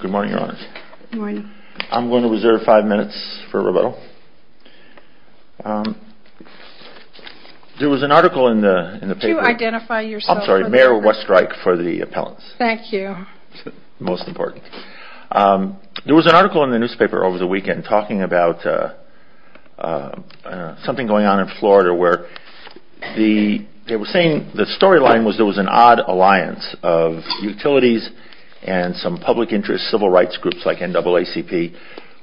Good morning, Your Honor. Good morning. I'm going to reserve five minutes for rebuttal. There was an article in the paper... Could you identify yourself? I'm sorry, Mayor Westreich for the appellants. Thank you. Most important. There was an article in the newspaper over the weekend talking about something going on in Florida where They were saying the storyline was there was an odd alliance of utilities and some public interest civil rights groups like NAACP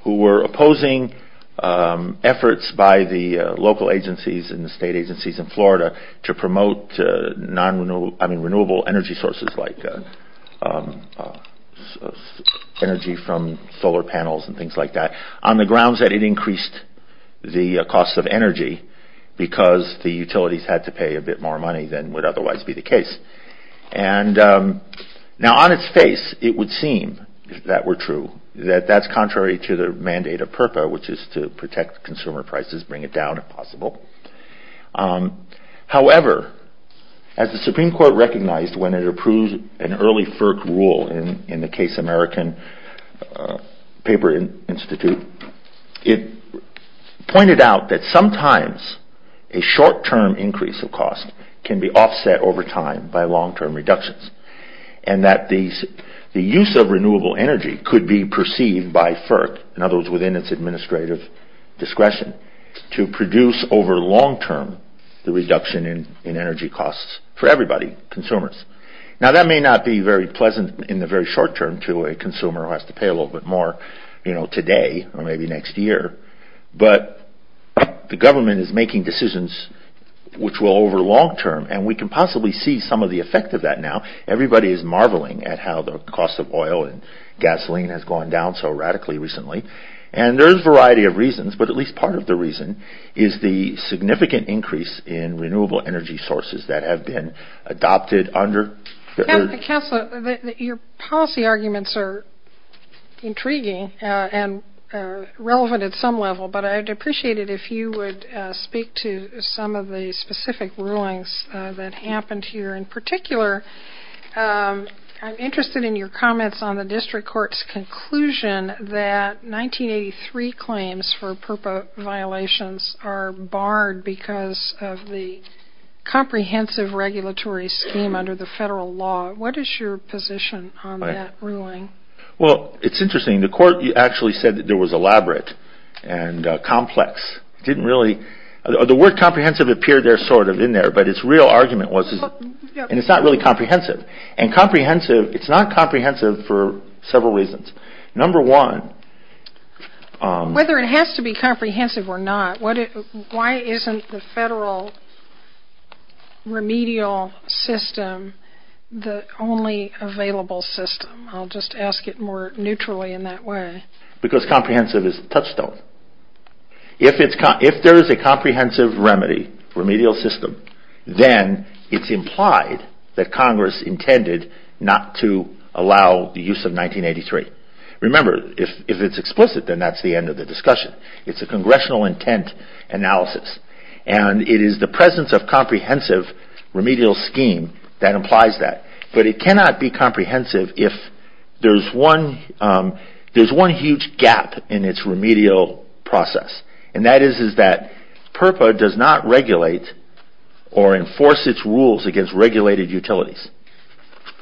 who were opposing efforts by the local agencies and the state agencies in Florida to promote renewable energy sources like energy from solar panels and things like that on the grounds that it increased the cost of energy because the utilities had to pay a bit more money than would otherwise be the case. And now on its face, it would seem that were true that that's contrary to the mandate of PURPA which is to protect consumer prices, bring it down if possible. However, as the Supreme Court recognized when it approved an early FERC rule in the case American Paper Institute it pointed out that sometimes a short-term increase of cost can be offset over time by long-term reductions and that the use of renewable energy could be perceived by FERC in other words within its administrative discretion to produce over long-term the reduction in energy costs for everybody, consumers. Now that may not be very pleasant in the very short term to a consumer who has to pay a little bit more today or maybe next year but the government is making decisions which will over long-term and we can possibly see some of the effect of that now. Everybody is marveling at how the cost of oil and gasoline has gone down so radically recently and there is a variety of reasons but at least part of the reason is the significant increase in renewable energy sources that have been adopted under... Your policy arguments are intriguing and relevant at some level but I'd appreciate it if you would speak to some of the specific rulings that happened here. In particular, I'm interested in your comments on the district court's conclusion that 1983 claims for purple violations are barred because of the comprehensive regulatory scheme under the federal law. What is your position on that ruling? Well, it's interesting. The court actually said that there was elaborate and complex. It didn't really... The word comprehensive appeared there sort of in there but its real argument was... and it's not really comprehensive and comprehensive, it's not comprehensive for several reasons. Number one... Whether it has to be comprehensive or not, why isn't the federal remedial system the only available system? I'll just ask it more neutrally in that way. Because comprehensive is a touchstone. If there is a comprehensive remedy, remedial system, then it's implied that Congress intended not to allow the use of 1983. Remember, if it's explicit, then that's the end of the discussion. It's a congressional intent analysis. And it is the presence of comprehensive remedial scheme that implies that. But it cannot be comprehensive if there's one huge gap in its remedial process. And that is that PURPA does not regulate or enforce its rules against regulated utilities.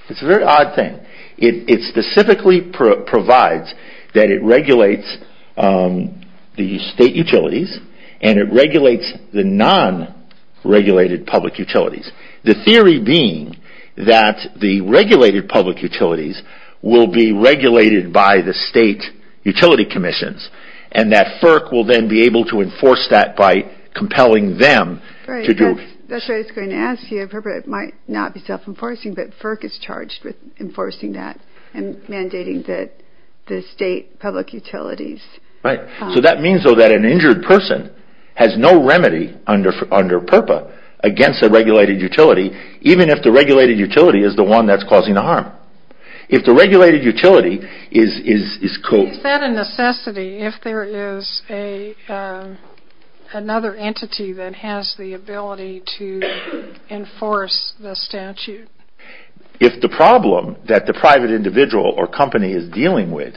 It's a very odd thing. It specifically provides that it regulates the state utilities and it regulates the non-regulated public utilities. The theory being that the regulated public utilities will be regulated by the state utility commissions and that FERC will then be able to enforce that by compelling them to do... That's what I was going to ask you. It might not be self-enforcing, but FERC is charged with enforcing that and mandating that the state public utilities... Right. So that means, though, that an injured person has no remedy under PURPA against a regulated utility, even if the regulated utility is the one that's causing the harm. If the regulated utility is... Is that a necessity if there is another entity that has the ability to enforce the statute? If the problem that the private individual or company is dealing with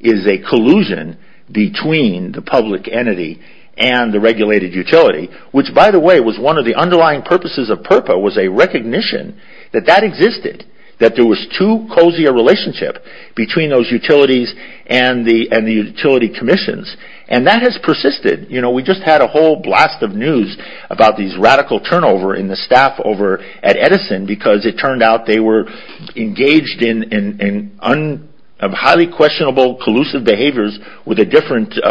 is a collusion between the public entity and the regulated utility, which, by the way, was one of the underlying purposes of PURPA, was a recognition that that existed, that there was too cozy a relationship between those utilities and the utility commissions, and that has persisted. We just had a whole blast of news about these radical turnover in the staff over at Edison because it turned out they were engaged in highly questionable collusive behaviors with SDG,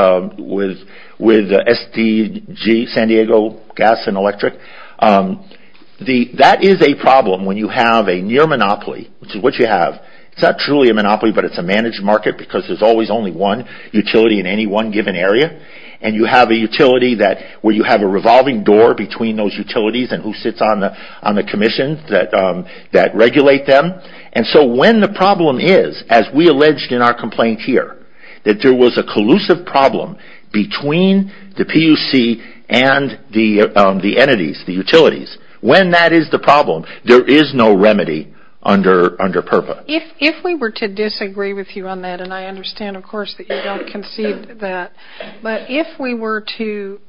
San Diego Gas and Electric. That is a problem when you have a near monopoly, which is what you have. It's not truly a monopoly, but it's a managed market because there's always only one utility in any one given area, and you have a utility where you have a revolving door between those utilities and who sits on the commission that regulate them. And so when the problem is, as we alleged in our complaint here, that there was a collusive problem between the PUC and the entities, the utilities, when that is the problem, there is no remedy under PURPA. If we were to disagree with you on that, and I understand, of course, that you don't concede that, but if we were to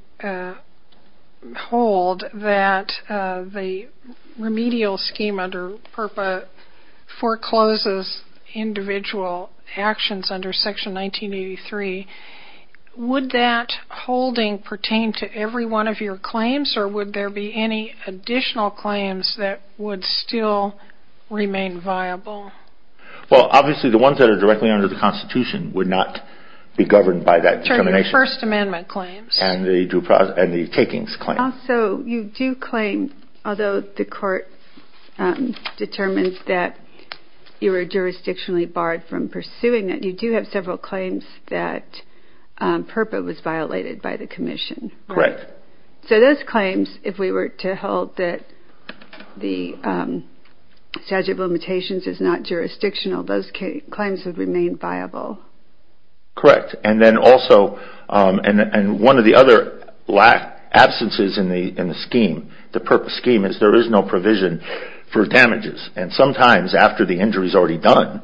hold that the remedial scheme under PURPA forecloses individual actions under Section 1983, would that holding pertain to every one of your claims, or would there be any additional claims that would still remain viable? Well, obviously the ones that are directly under the Constitution would not be governed by that determination. Your First Amendment claims. And the takings claim. And also you do claim, although the court determines that you were jurisdictionally barred from pursuing it, you do have several claims that PURPA was violated by the commission. Correct. So those claims, if we were to hold that the statute of limitations is not jurisdictional, those claims would remain viable. Correct. And one of the other absences in the scheme, the PURPA scheme, is there is no provision for damages. And sometimes after the injury is already done,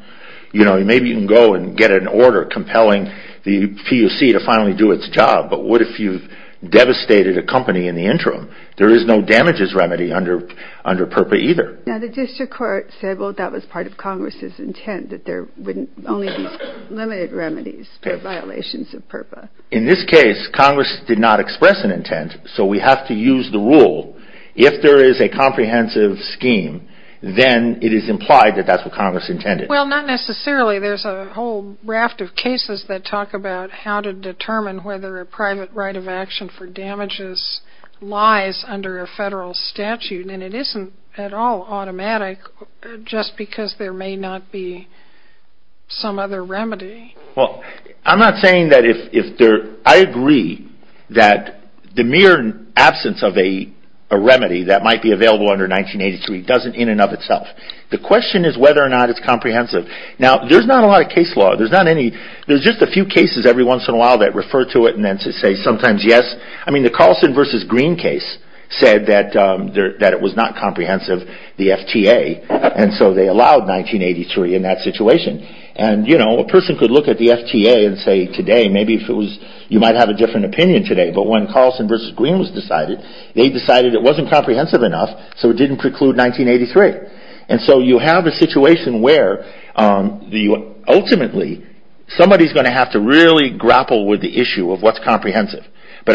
maybe you can go and get an order compelling the PUC to finally do its job, but what if you've devastated a company in the interim? There is no damages remedy under PURPA either. Now the district court said, well, that was part of Congress's intent, that there would only be limited remedies for violations of PURPA. In this case, Congress did not express an intent, so we have to use the rule. If there is a comprehensive scheme, then it is implied that that's what Congress intended. Well, not necessarily. There's a whole raft of cases that talk about how to determine whether a private right of action for damages lies under a federal statute. And it isn't at all automatic just because there may not be some other remedy. Well, I'm not saying that if there – I agree that the mere absence of a remedy that might be available under 1983 doesn't in and of itself. The question is whether or not it's comprehensive. Now, there's not a lot of case law. There's not any – there's just a few cases every once in a while that refer to it and then to say sometimes yes. I mean, the Carlson v. Green case said that it was not comprehensive, the FTA, and so they allowed 1983 in that situation. And, you know, a person could look at the FTA and say today, maybe if it was – you might have a different opinion today. But when Carlson v. Green was decided, they decided it wasn't comprehensive enough, so it didn't preclude 1983. And so you have a situation where ultimately, But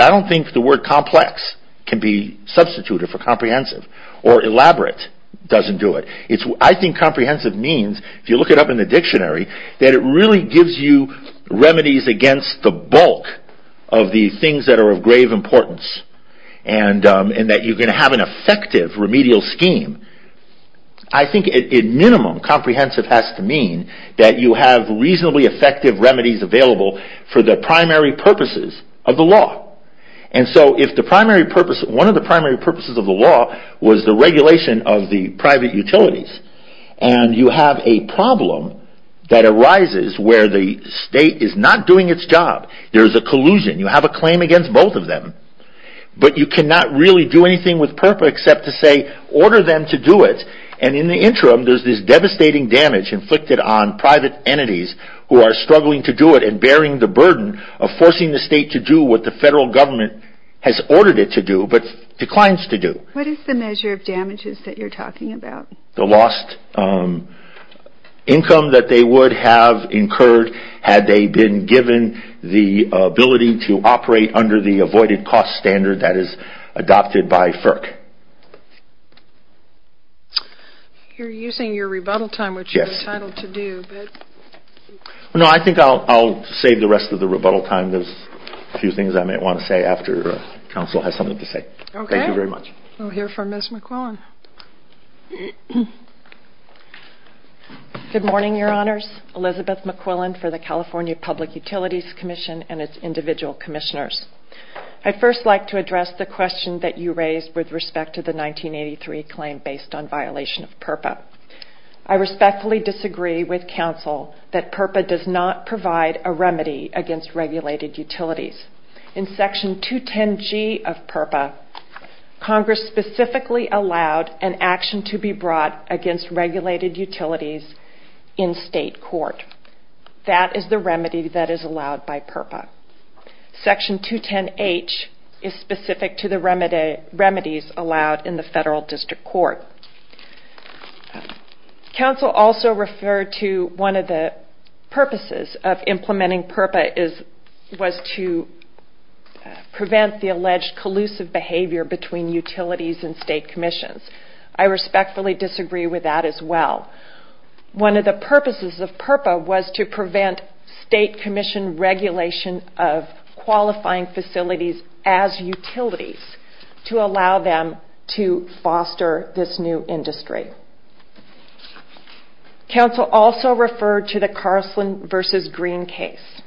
I don't think the word complex can be substituted for comprehensive. Or elaborate doesn't do it. I think comprehensive means, if you look it up in the dictionary, that it really gives you remedies against the bulk of the things that are of grave importance and that you're going to have an effective remedial scheme. I think at minimum, comprehensive has to mean that you have reasonably effective remedies available for the primary purposes of the law. And so if the primary purpose – one of the primary purposes of the law was the regulation of the private utilities, and you have a problem that arises where the state is not doing its job, there's a collusion, you have a claim against both of them, but you cannot really do anything with PERPA except to say, order them to do it. And in the interim, there's this devastating damage inflicted on private entities who are struggling to do it and bearing the burden of forcing the state to do what the federal government has ordered it to do, but declines to do. What is the measure of damages that you're talking about? The lost income that they would have incurred had they been given the ability to operate under the avoided cost standard that is adopted by FERC. Okay. You're using your rebuttal time, which you were entitled to do. No, I think I'll save the rest of the rebuttal time. There's a few things I might want to say after counsel has something to say. Okay. Thank you very much. We'll hear from Ms. McQuillan. Good morning, Your Honors. Elizabeth McQuillan for the California Public Utilities Commission and its individual commissioners. I'd first like to address the question that you raised with respect to the 1983 claim based on violation of PURPA. I respectfully disagree with counsel that PURPA does not provide a remedy against regulated utilities. In Section 210G of PURPA, Congress specifically allowed an action to be brought against regulated utilities in state court. That is the remedy that is allowed by PURPA. Section 210H is specific to the remedies allowed in the federal district court. Counsel also referred to one of the purposes of implementing PURPA was to prevent the alleged collusive behavior between utilities and state commissions. I respectfully disagree with that as well. One of the purposes of PURPA was to prevent state commission regulation of qualifying facilities as utilities to allow them to foster this new industry. Counsel also referred to the Carlson v. Green case.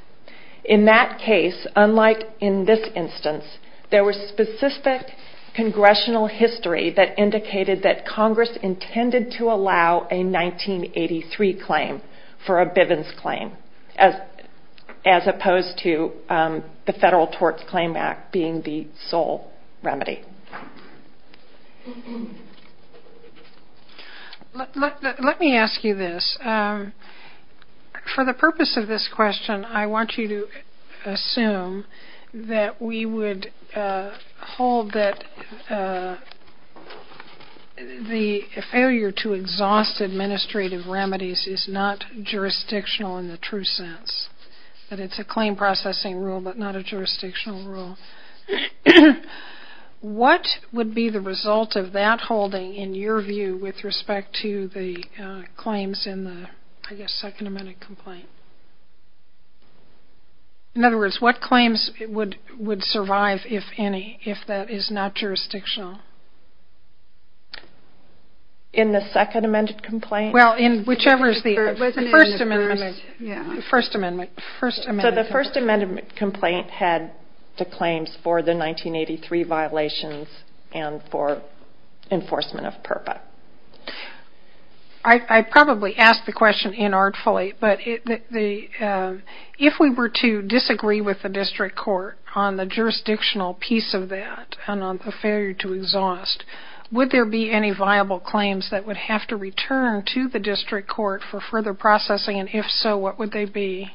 In that case, unlike in this instance, there was specific congressional history that indicated that Congress intended to allow a 1983 claim for a Bivens claim as opposed to the Federal Torts Claim Act being the sole remedy. Let me ask you this. For the purpose of this question, I want you to assume that we would hold that the failure to exhaust administrative remedies is not jurisdictional in the true sense, that it's a claim processing rule but not a jurisdictional rule. What would be the result of that holding in your view with respect to the claims in the, I guess, second amended complaint? In other words, what claims would survive, if any, if that is not jurisdictional? In the second amended complaint? Well, in whichever is the first amendment. So the first amended complaint had the claims for the 1983 violations and for enforcement of PURPA. I probably asked the question inartfully, but if we were to disagree with the district court on the jurisdictional piece of that and on the failure to exhaust, would there be any viable claims that would have to return to the district court for further processing, and if so, what would they be?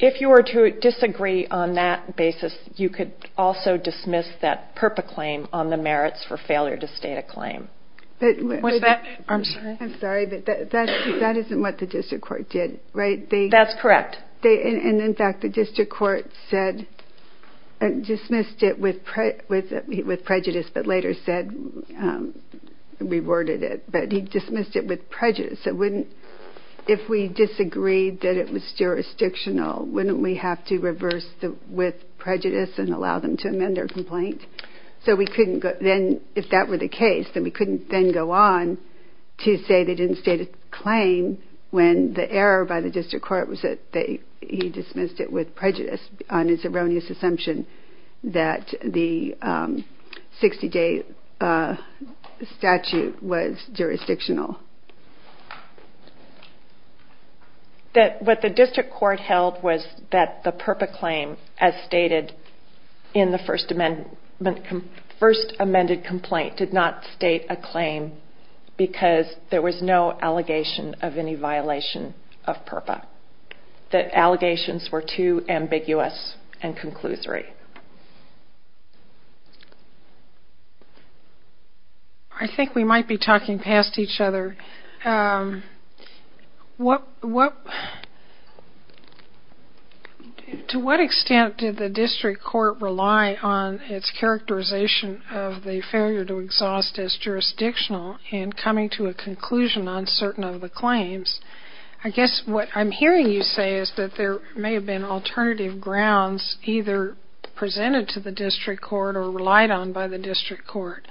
If you were to disagree on that basis, you could also dismiss that PURPA claim on the merits for failure to state a claim. I'm sorry, but that isn't what the district court did, right? That's correct. And in fact, the district court said, dismissed it with prejudice, but later said, reworded it, but he dismissed it with prejudice. If we disagreed that it was jurisdictional, wouldn't we have to reverse with prejudice and allow them to amend their complaint? So if that were the case, then we couldn't then go on to say they didn't state a claim when the error by the district court was that he dismissed it with prejudice on his erroneous assumption that the 60-day statute was jurisdictional. What the district court held was that the PURPA claim, as stated in the first amended complaint, did not state a claim because there was no allegation of any violation of PURPA. The allegations were too ambiguous and conclusory. I think we might be talking past each other. Okay. To what extent did the district court rely on its characterization of the failure to exhaust as jurisdictional in coming to a conclusion on certain of the claims? I guess what I'm hearing you say is that there may have been alternative grounds either presented to the district court or relied on by the district court.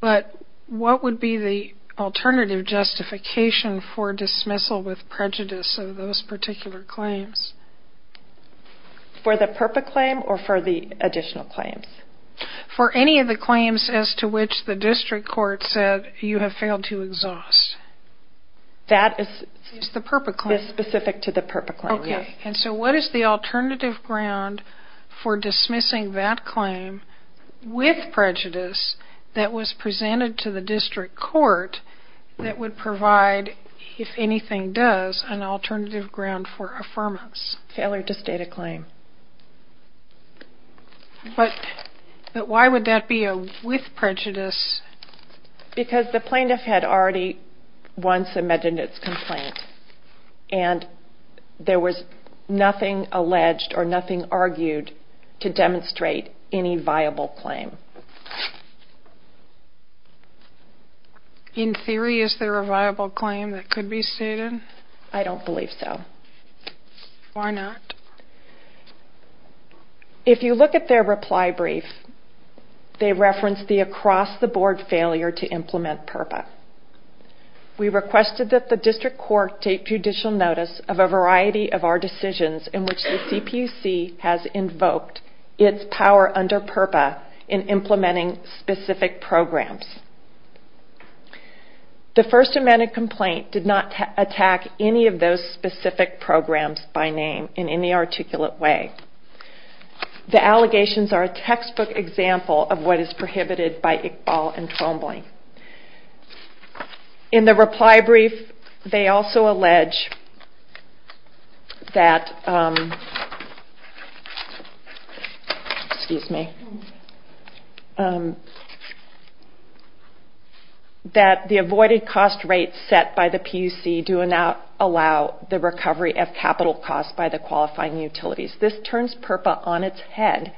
But what would be the alternative justification for dismissal with prejudice of those particular claims? For the PURPA claim or for the additional claims? For any of the claims as to which the district court said you have failed to exhaust. That is specific to the PURPA claim. Okay. And so what is the alternative ground for dismissing that claim with prejudice that was presented to the district court that would provide, if anything does, an alternative ground for affirmance? Failure to state a claim. But why would that be with prejudice? Because the plaintiff had already once amended its complaint and there was nothing alleged or nothing argued to demonstrate any viable claim. In theory, is there a viable claim that could be stated? I don't believe so. Why not? If you look at their reply brief, they reference the across-the-board failure to implement PURPA. We requested that the district court take judicial notice of a variety of our decisions in which the CPUC has invoked its power under PURPA in implementing specific programs. The first amended complaint did not attack any of those specific programs by name in any articulate way. The allegations are a textbook example of what is prohibited by Iqbal and Trombley. In the reply brief, they also allege that the avoided cost rates set by the PUC do not allow the recovery of capital costs by the qualifying utilities. This turns PURPA on its head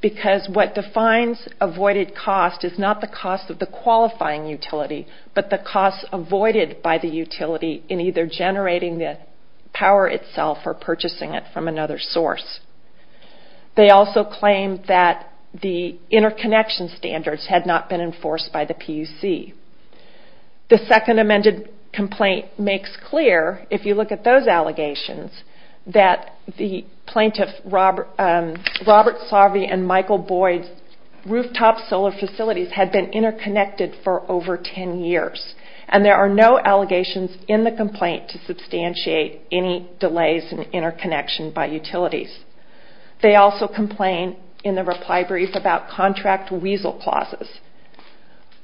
because what defines avoided cost is not the cost of the qualifying utility but the cost avoided by the utility in either generating the power itself or purchasing it from another source. They also claim that the interconnection standards had not been enforced by the PUC. The second amended complaint makes clear, if you look at those allegations, that the plaintiffs, Robert Saave and Michael Boyd's rooftop solar facilities had been interconnected for over 10 years. And there are no allegations in the complaint to substantiate any delays in interconnection by utilities. They also complain in the reply brief about contract weasel clauses.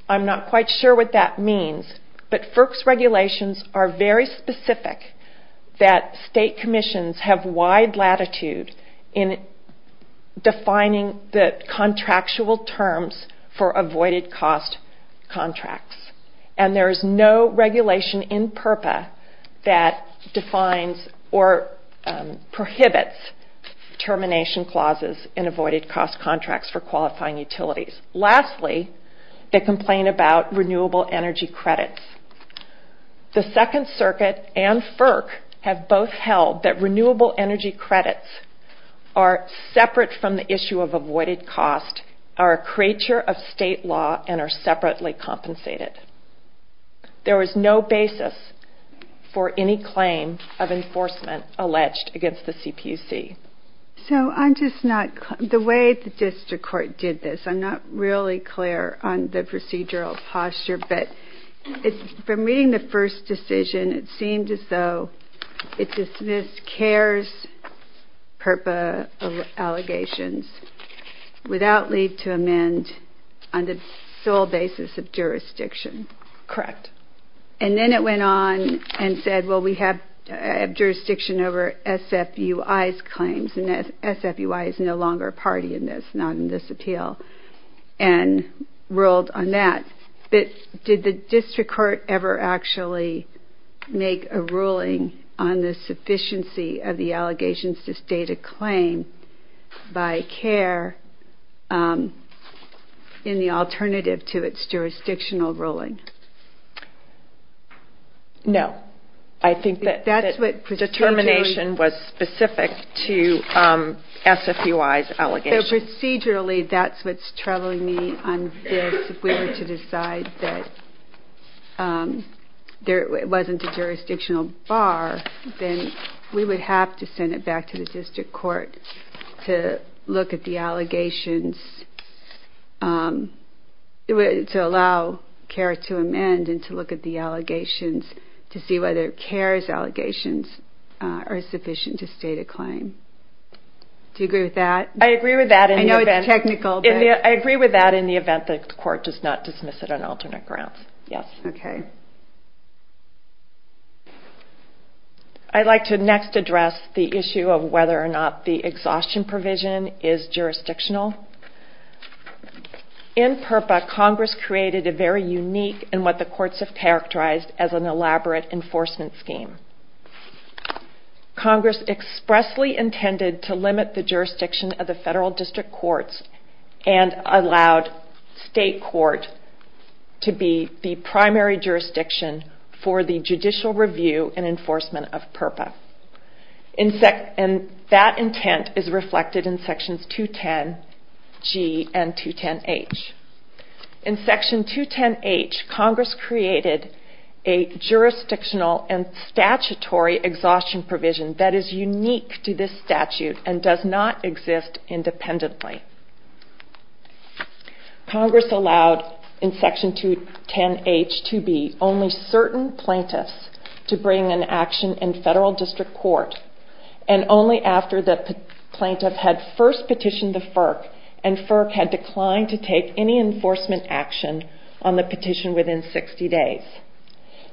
I'm not quite sure what that means, but FERC's regulations are very specific that state commissions have wide latitude in defining the contractual terms for avoided cost contracts. And there is no regulation in PURPA that defines or prohibits termination clauses in avoided cost contracts for qualifying utilities. Lastly, they complain about renewable energy credits. The Second Circuit and FERC have both held that renewable energy credits are separate from the issue of avoided cost, are a creature of state law, and are separately compensated. There is no basis for any claim of enforcement alleged against the CPUC. The way the district court did this, I'm not really clear on the procedural posture, but from reading the first decision, it seemed as though it dismissed CARES PURPA allegations without leave to amend on the sole basis of jurisdiction. Correct. And then it went on and said, well, we have jurisdiction over SFUI's claims, and SFUI is no longer a party in this, not in this appeal, and ruled on that. But did the district court ever actually make a ruling on the sufficiency of the allegations to state a claim by CARE in the alternative to its jurisdictional ruling? No. I think that determination was specific to SFUI's allegations. Procedurally, that's what's troubling me on this. If we were to decide that there wasn't a jurisdictional bar, then we would have to send it back to the district court to look at the allegations, to allow CARE to amend and to look at the allegations to see whether CARES allegations are sufficient to state a claim. Do you agree with that? I agree with that. I know it's technical. I agree with that in the event that the court does not dismiss it on alternate grounds. Yes. Okay. I'd like to next address the issue of whether or not the exhaustion provision is jurisdictional. In PURPA, Congress created a very unique and what the courts have characterized as an elaborate enforcement scheme. Congress expressly intended to limit the jurisdiction of the federal district courts and allowed state court to be the primary jurisdiction for the judicial review and enforcement of PURPA. That intent is reflected in sections 210G and 210H. In section 210H, Congress created a jurisdictional and statutory exhaustion provision that is unique to this statute and does not exist independently. Congress allowed in section 210H to be only certain plaintiffs to bring an action in federal district court and only after the plaintiff had first petitioned the FERC and FERC had declined to take any enforcement action on the petition within 60 days.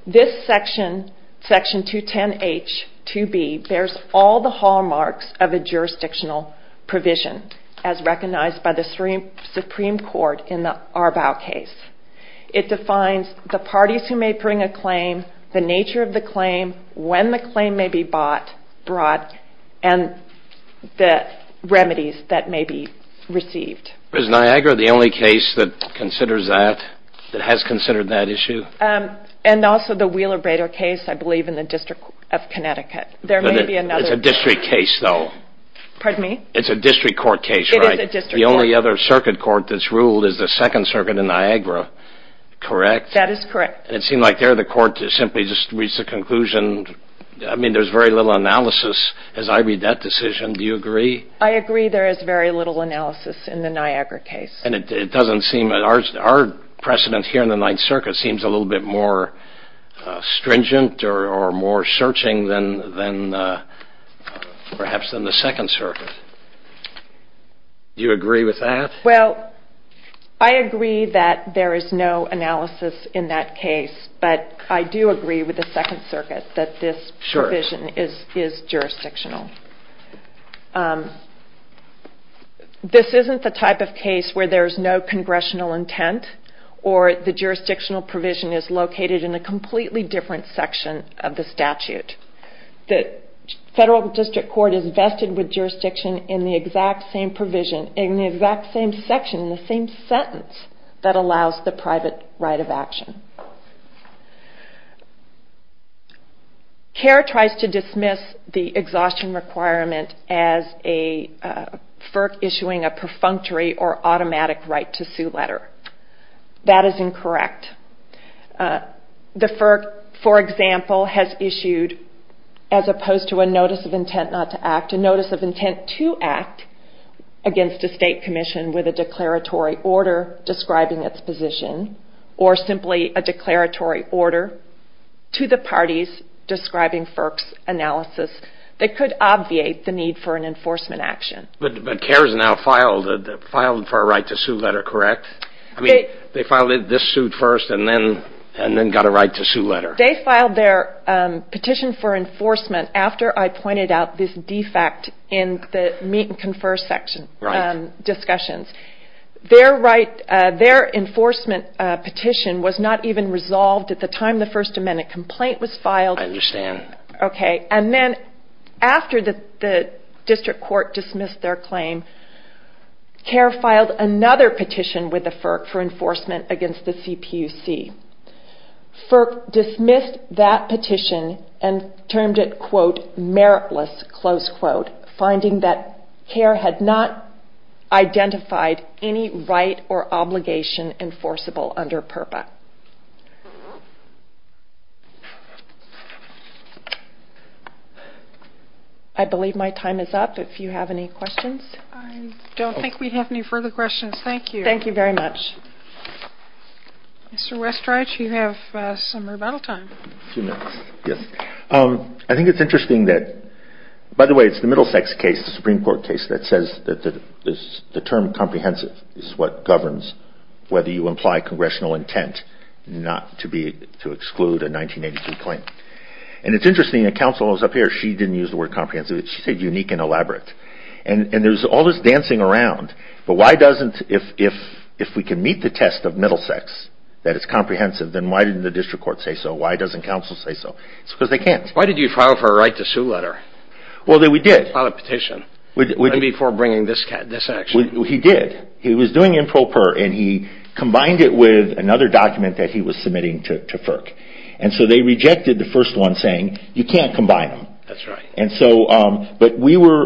This section, section 210H-2B, bears all the hallmarks of a jurisdictional provision as recognized by the Supreme Court in the Arbaugh case. It defines the parties who may bring a claim, the nature of the claim, when the claim may be bought, brought, and the remedies that may be received. Is Niagara the only case that considers that, that has considered that issue? And also the Wheeler-Brader case, I believe, in the District of Connecticut. There may be another. It's a district case, though. Pardon me? It's a district court case, right? It is a district court. The only other circuit court that's ruled is the Second Circuit in Niagara, correct? That is correct. And it seems like there the court has simply just reached a conclusion. I mean, there's very little analysis as I read that decision. Do you agree? I agree there is very little analysis in the Niagara case. And it doesn't seem, our precedent here in the Ninth Circuit seems a little bit more stringent or more searching than perhaps in the Second Circuit. Do you agree with that? Well, I agree that there is no analysis in that case, but I do agree with the Second Circuit that this provision is jurisdictional. This isn't the type of case where there's no congressional intent or the jurisdictional provision is located in a completely different section of the statute. The federal district court is vested with jurisdiction in the exact same provision, in the exact same section, in the same sentence that allows the private right of action. CARE tries to dismiss the exhaustion requirement as a FERC issuing a perfunctory or automatic right to sue letter. That is incorrect. The FERC, for example, has issued, as opposed to a notice of intent not to act, a notice of intent to act against a state commission with a declaratory order describing its position or simply a declaratory order to the parties describing FERC's analysis that could obviate the need for an enforcement action. But CARE has now filed for a right to sue letter, correct? I mean, they filed this suit first and then got a right to sue letter. They filed their petition for enforcement after I pointed out this defect in the meet and confer section discussions. Their enforcement petition was not even resolved at the time the First Amendment complaint was filed. I understand. Okay. And then after the district court dismissed their claim, CARE filed another petition with the FERC for enforcement against the CPUC. FERC dismissed that petition and termed it, quote, FERC has not identified any right or obligation enforceable under PURPA. I believe my time is up. If you have any questions? I don't think we have any further questions. Thank you. Thank you very much. Mr. Westreich, you have some rebuttal time. A few minutes. Yes. I think it's interesting that, by the way, it's the Middlesex case, it's a Supreme Court case that says that the term comprehensive is what governs whether you imply congressional intent not to exclude a 1982 claim. And it's interesting that counsel is up here. She didn't use the word comprehensive. She said unique and elaborate. And there's all this dancing around. But why doesn't, if we can meet the test of Middlesex, that it's comprehensive, then why didn't the district court say so? Why doesn't counsel say so? It's because they can't. Why did you file for a right to sue letter? Well, we did. On a petition. And before bringing this action. He did. He was doing improper, and he combined it with another document that he was submitting to FERC. And so they rejected the first one saying, you can't combine them. That's right. But we were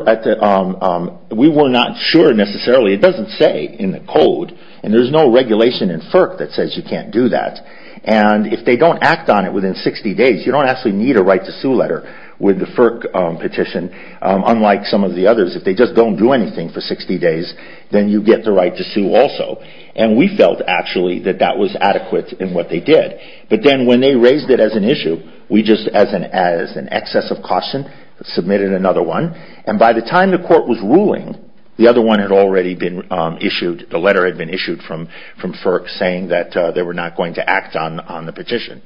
not sure necessarily. It doesn't say in the code. And there's no regulation in FERC that says you can't do that. And if they don't act on it within 60 days, you don't actually need a right to sue letter with the FERC petition. Unlike some of the others, if they just don't do anything for 60 days, then you get the right to sue also. And we felt, actually, that that was adequate in what they did. But then when they raised it as an issue, we just, as an excess of caution, submitted another one. And by the time the court was ruling, the other one had already been issued. The letter had been issued from FERC saying that they were not going to act on the petition.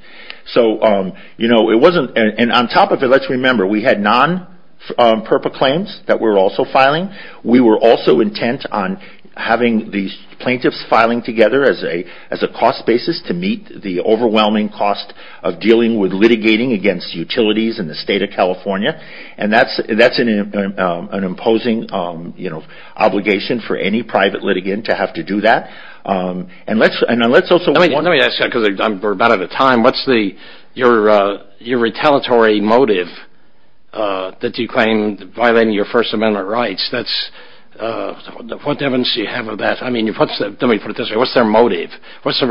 So, you know, it wasn't. And on top of it, let's remember, we had non-PERPA claims that were also filing. We were also intent on having these plaintiffs filing together as a cost basis to meet the overwhelming cost of dealing with litigating against utilities in the state of California. And that's an imposing obligation for any private litigant to have to do that. And let's also... Let me ask you, because we're about out of time. What's your retaliatory motive that you claim violating your First Amendment rights? What evidence do you have of that? I mean, let me put it this way. What's their motive? What's the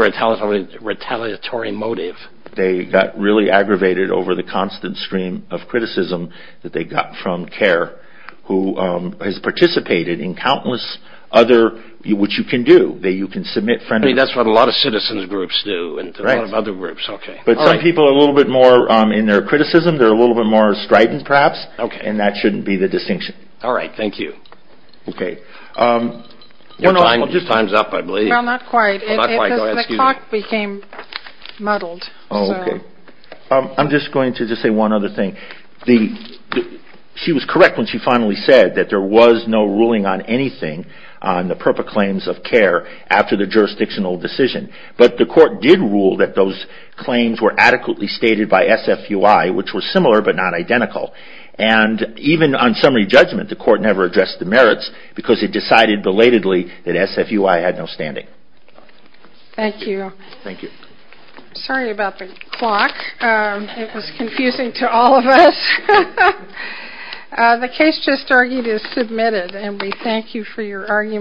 retaliatory motive? They got really aggravated over the constant stream of criticism that they got from CARE, who has participated in countless other, which you can do. You can submit... I mean, that's what a lot of citizens groups do and a lot of other groups. But some people are a little bit more in their criticism. They're a little bit more strident, perhaps. And that shouldn't be the distinction. All right. Thank you. Okay. Time's up, I believe. Well, not quite. The clock became muddled. Oh, okay. I'm just going to say one other thing. She was correct when she finally said that there was no ruling on anything on the proper claims of CARE after the jurisdictional decision. But the court did rule that those claims were adequately stated by SFUI, which were similar but not identical. And even on summary judgment, the court never addressed the merits because it decided belatedly that SFUI had no standing. Thank you. Thank you. Sorry about the clock. It was confusing to all of us. The case just argued is submitted, and we thank you for your argument.